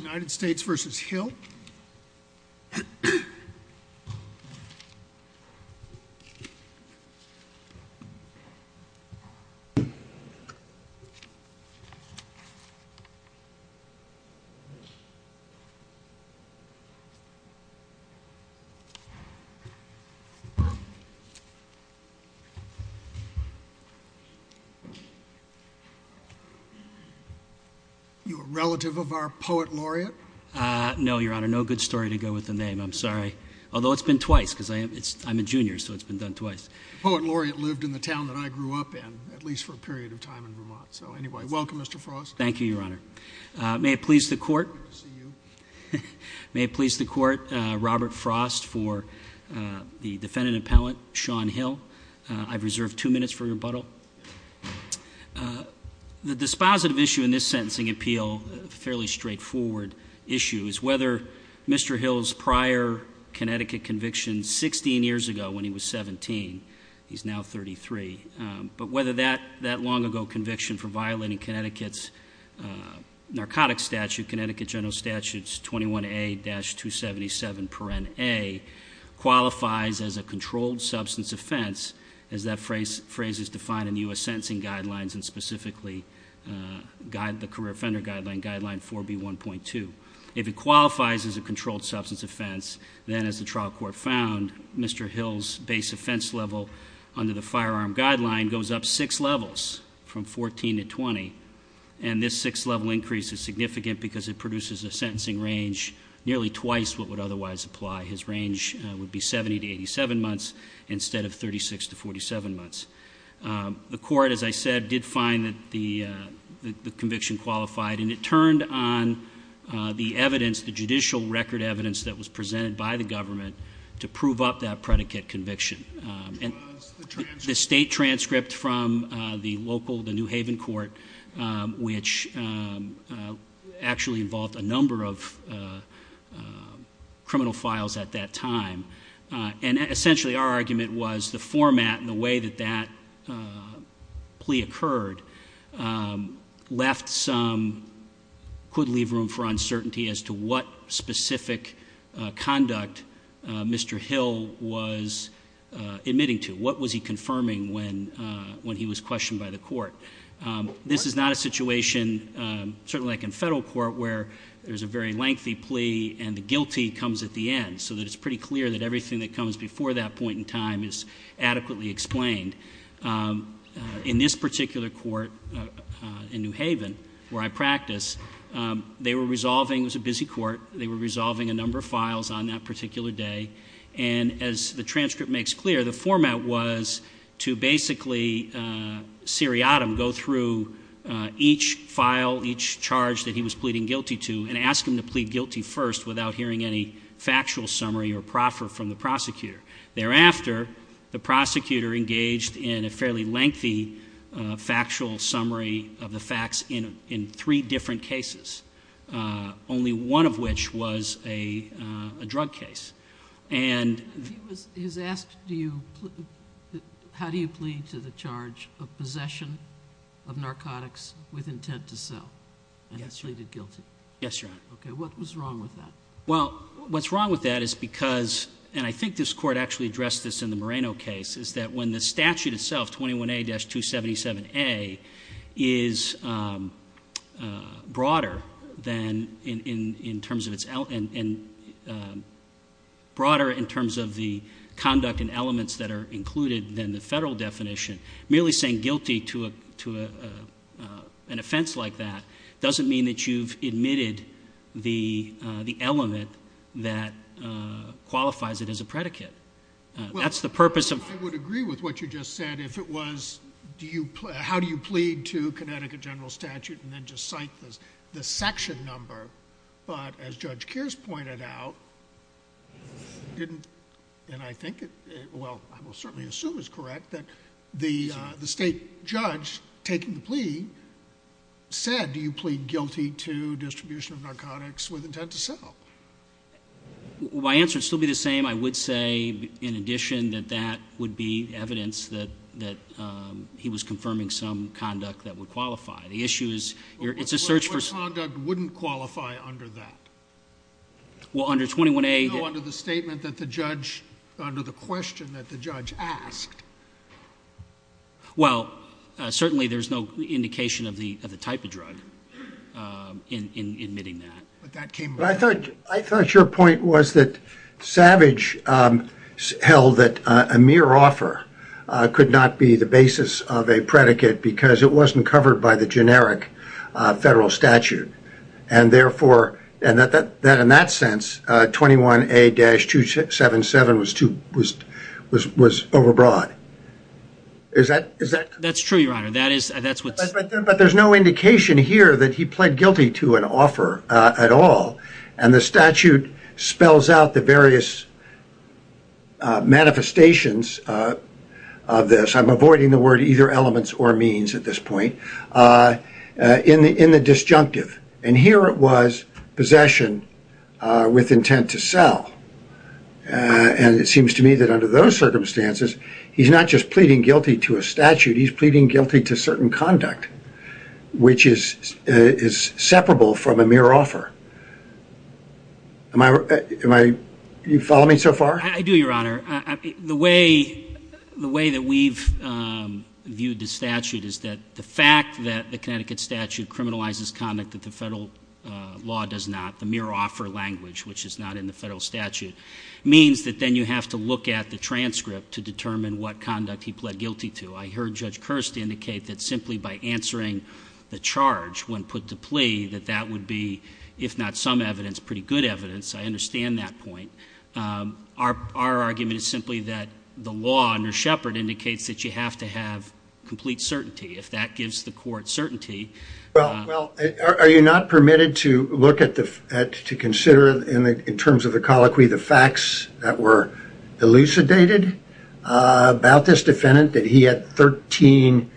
United States v. Hill Are you a relative of our poet laureate? No, your honor, no good story to go with the name, I'm sorry. Although it's been twice, because I'm a junior, so it's been done twice. The poet laureate lived in the town that I grew up in, at least for a period of time in Vermont. So anyway, welcome, Mr. Frost. Thank you, your honor. May it please the court, Robert Frost for the defendant appellant, Sean Hill. I've reserved two minutes for rebuttal. So the dispositive issue in this sentencing appeal, a fairly straightforward issue, is whether Mr. Hill's prior Connecticut conviction 16 years ago when he was 17, he's now 33, but whether that long ago conviction for violating Connecticut's narcotics statute, Connecticut General Statute 21A-277 paren a, qualifies as a controlled substance offense, as that phrase is defined in U.S. sentencing guidelines and specifically the career offender guideline 4B1.2. If it qualifies as a controlled substance offense, then as the trial court found, Mr. Hill's base offense level under the firearm guideline goes up six levels from 14 to 20, and this six-level increase is significant because it produces a sentencing range nearly twice what would otherwise apply. His range would be 70 to 87 months instead of 36 to 47 months. The court, as I said, did find that the conviction qualified, and it turned on the evidence, the judicial record evidence that was presented by the government to prove up that predicate conviction. The state transcript from the local, the New Haven court, which actually involved a number of criminal files at that time, and essentially our argument was the format and the way that that plea occurred left some, I would leave room for uncertainty as to what specific conduct Mr. Hill was admitting to. What was he confirming when he was questioned by the court? This is not a situation, certainly like in federal court, where there's a very lengthy plea and the guilty comes at the end, so that it's pretty clear that everything that comes before that point in time is adequately explained. In this particular court in New Haven, where I practice, they were resolving, it was a busy court, they were resolving a number of files on that particular day, and as the transcript makes clear, the format was to basically seriatim go through each file, each charge that he was pleading guilty to, and ask him to plead guilty first without hearing any factual summary or proffer from the prosecutor. Thereafter, the prosecutor engaged in a fairly lengthy factual summary of the facts in three different cases, only one of which was a drug case. And he was asked, how do you plead to the charge of possession of narcotics with intent to sell? And he pleaded guilty. Yes, Your Honor. Okay, what was wrong with that? Well, what's wrong with that is because, and I think this court actually addressed this in the Moreno case, is that when the statute itself, 21A-277A, is broader in terms of the conduct and elements that are included than the federal definition, merely saying guilty to an offense like that doesn't mean that you've admitted the element that qualifies it as a predicate. Well, I would agree with what you just said. If it was, how do you plead to Connecticut general statute, and then just cite the section number. But as Judge Kears pointed out, and I think it, well, I will certainly assume it's correct, that the state judge taking the plea said, do you plead guilty to distribution of narcotics with intent to sell? My answer would still be the same. I would say, in addition, that that would be evidence that he was confirming some conduct that would qualify. The issue is, it's a search for. What conduct wouldn't qualify under that? Well, under 21A. No, under the statement that the judge, under the question that the judge asked. Well, certainly there's no indication of the type of drug in admitting that. I thought your point was that Savage held that a mere offer could not be the basis of a predicate because it wasn't covered by the generic federal statute. And therefore, in that sense, 21A-277 was overbroad. Is that? That's true, Your Honor. But there's no indication here that he pled guilty to an offer at all. And the statute spells out the various manifestations of this. I'm avoiding the word either elements or means at this point. In the disjunctive. And here it was possession with intent to sell. And it seems to me that under those circumstances, he's not just pleading guilty to a statute. He's pleading guilty to certain conduct, which is separable from a mere offer. Are you following me so far? I do, Your Honor. The way that we've viewed the statute is that the fact that the Connecticut statute criminalizes conduct that the federal law does not, the mere offer language, which is not in the federal statute, means that then you have to look at the transcript to determine what conduct he pled guilty to. I heard Judge Kirste indicate that simply by answering the charge when put to plea, that that would be, if not some evidence, pretty good evidence. I understand that point. Our argument is simply that the law under Shepard indicates that you have to have complete certainty. If that gives the court certainty. Well, are you not permitted to look at, to consider in terms of the colloquy, the facts that were elucidated about this defendant, that he had 13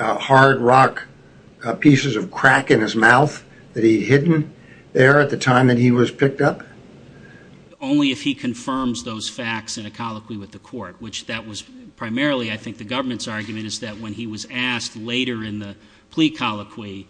hard rock pieces of crack in his mouth that he'd hidden there at the time that he was picked up? Only if he confirms those facts in a colloquy with the court, which that was primarily, I think, the government's argument is that when he was asked later in the plea colloquy,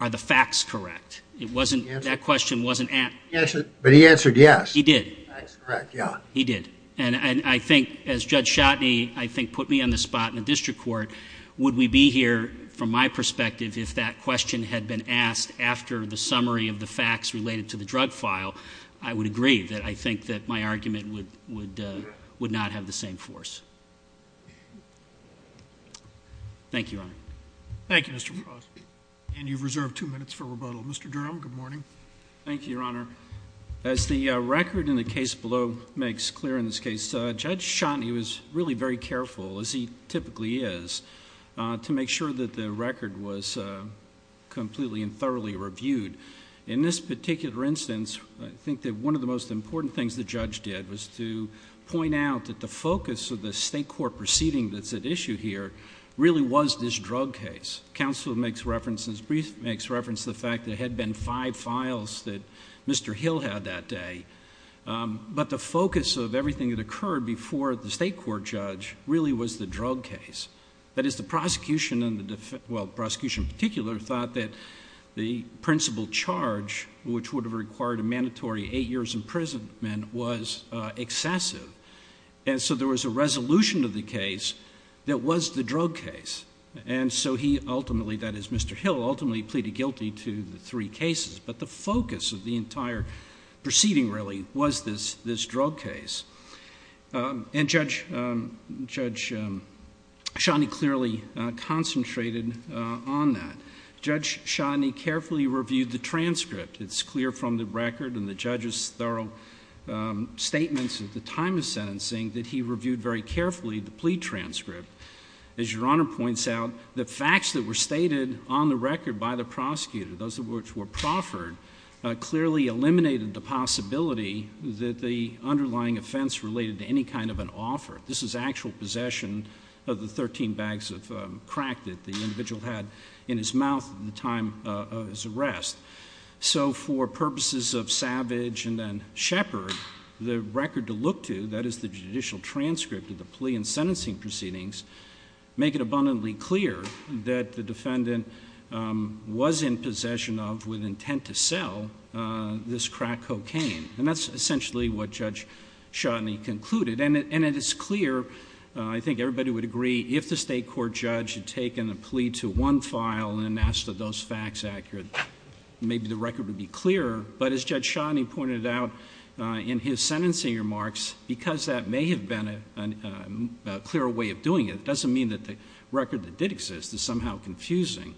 are the facts correct? It wasn't, that question wasn't answered. But he answered yes. He did. That's correct, yeah. He did. And I think, as Judge Shotney, I think, put me on the spot in the district court, would we be here, from my perspective, if that question had been asked after the summary of the facts related to the drug file, I would agree that I think that my argument would not have the same force. Thank you, Your Honor. Thank you, Mr. Frost. And you've reserved two minutes for rebuttal. Mr. Durham, good morning. Thank you, Your Honor. As the record in the case below makes clear in this case, Judge Shotney was really very careful, as he typically is, to make sure that the record was completely and thoroughly reviewed. In this particular instance, I think that one of the most important things the judge did was to point out that the focus of the state court proceeding that's at issue here really was this drug case. Counsel makes reference, in his brief, makes reference to the fact that there had been five files that Mr. Hill had that day. But the focus of everything that occurred before the state court judge really was the drug case. That is, the prosecution, in particular, thought that the principal charge, which would have required a mandatory eight years' imprisonment, was excessive. And so there was a resolution to the case that was the drug case. And so he ultimately, that is Mr. Hill, ultimately pleaded guilty to the three cases. But the focus of the entire proceeding really was this drug case. And Judge Shotney clearly concentrated on that. Judge Shotney carefully reviewed the transcript. It's clear from the record and the judge's thorough statements at the time of sentencing that he reviewed very carefully the plea transcript. As Your Honor points out, the facts that were stated on the record by the prosecutor, those of which were proffered, clearly eliminated the possibility that the underlying offense related to any kind of an offer. This is actual possession of the 13 bags of crack that the individual had in his mouth at the time of his arrest. So for purposes of Savage and then Shepherd, the record to look to, that is the judicial transcript of the plea and sentencing proceedings, make it abundantly clear that the defendant was in possession of, with intent to sell, this crack cocaine. And that's essentially what Judge Shotney concluded. And it is clear, I think everybody would agree, if the state court judge had taken a plea to one file and asked are those facts accurate, maybe the record would be clearer. But as Judge Shotney pointed out in his sentencing remarks, because that may have been a clearer way of doing it, it doesn't mean that the record that did exist is somehow confusing.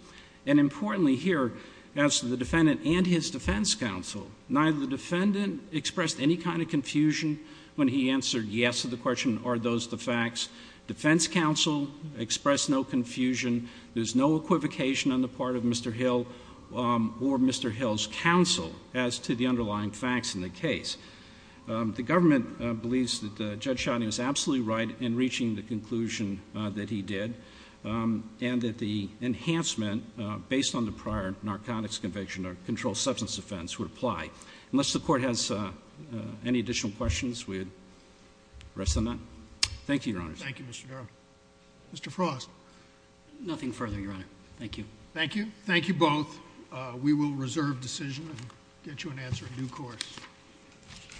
And importantly here, as to the defendant and his defense counsel, neither the defendant expressed any kind of confusion when he answered yes to the question, are those the facts? Defense counsel expressed no confusion. There's no equivocation on the part of Mr. Hill or Mr. Hill's counsel as to the underlying facts in the case. The government believes that Judge Shotney was absolutely right in reaching the conclusion that he did, and that the enhancement based on the prior narcotics conviction or controlled substance offense would apply. Unless the court has any additional questions, we would rest on that. Thank you, Your Honors. Thank you, Mr. Darrell. Mr. Frost. Nothing further, Your Honor. Thank you. Thank you. Thank you both. We will reserve decision and get you an answer in due course.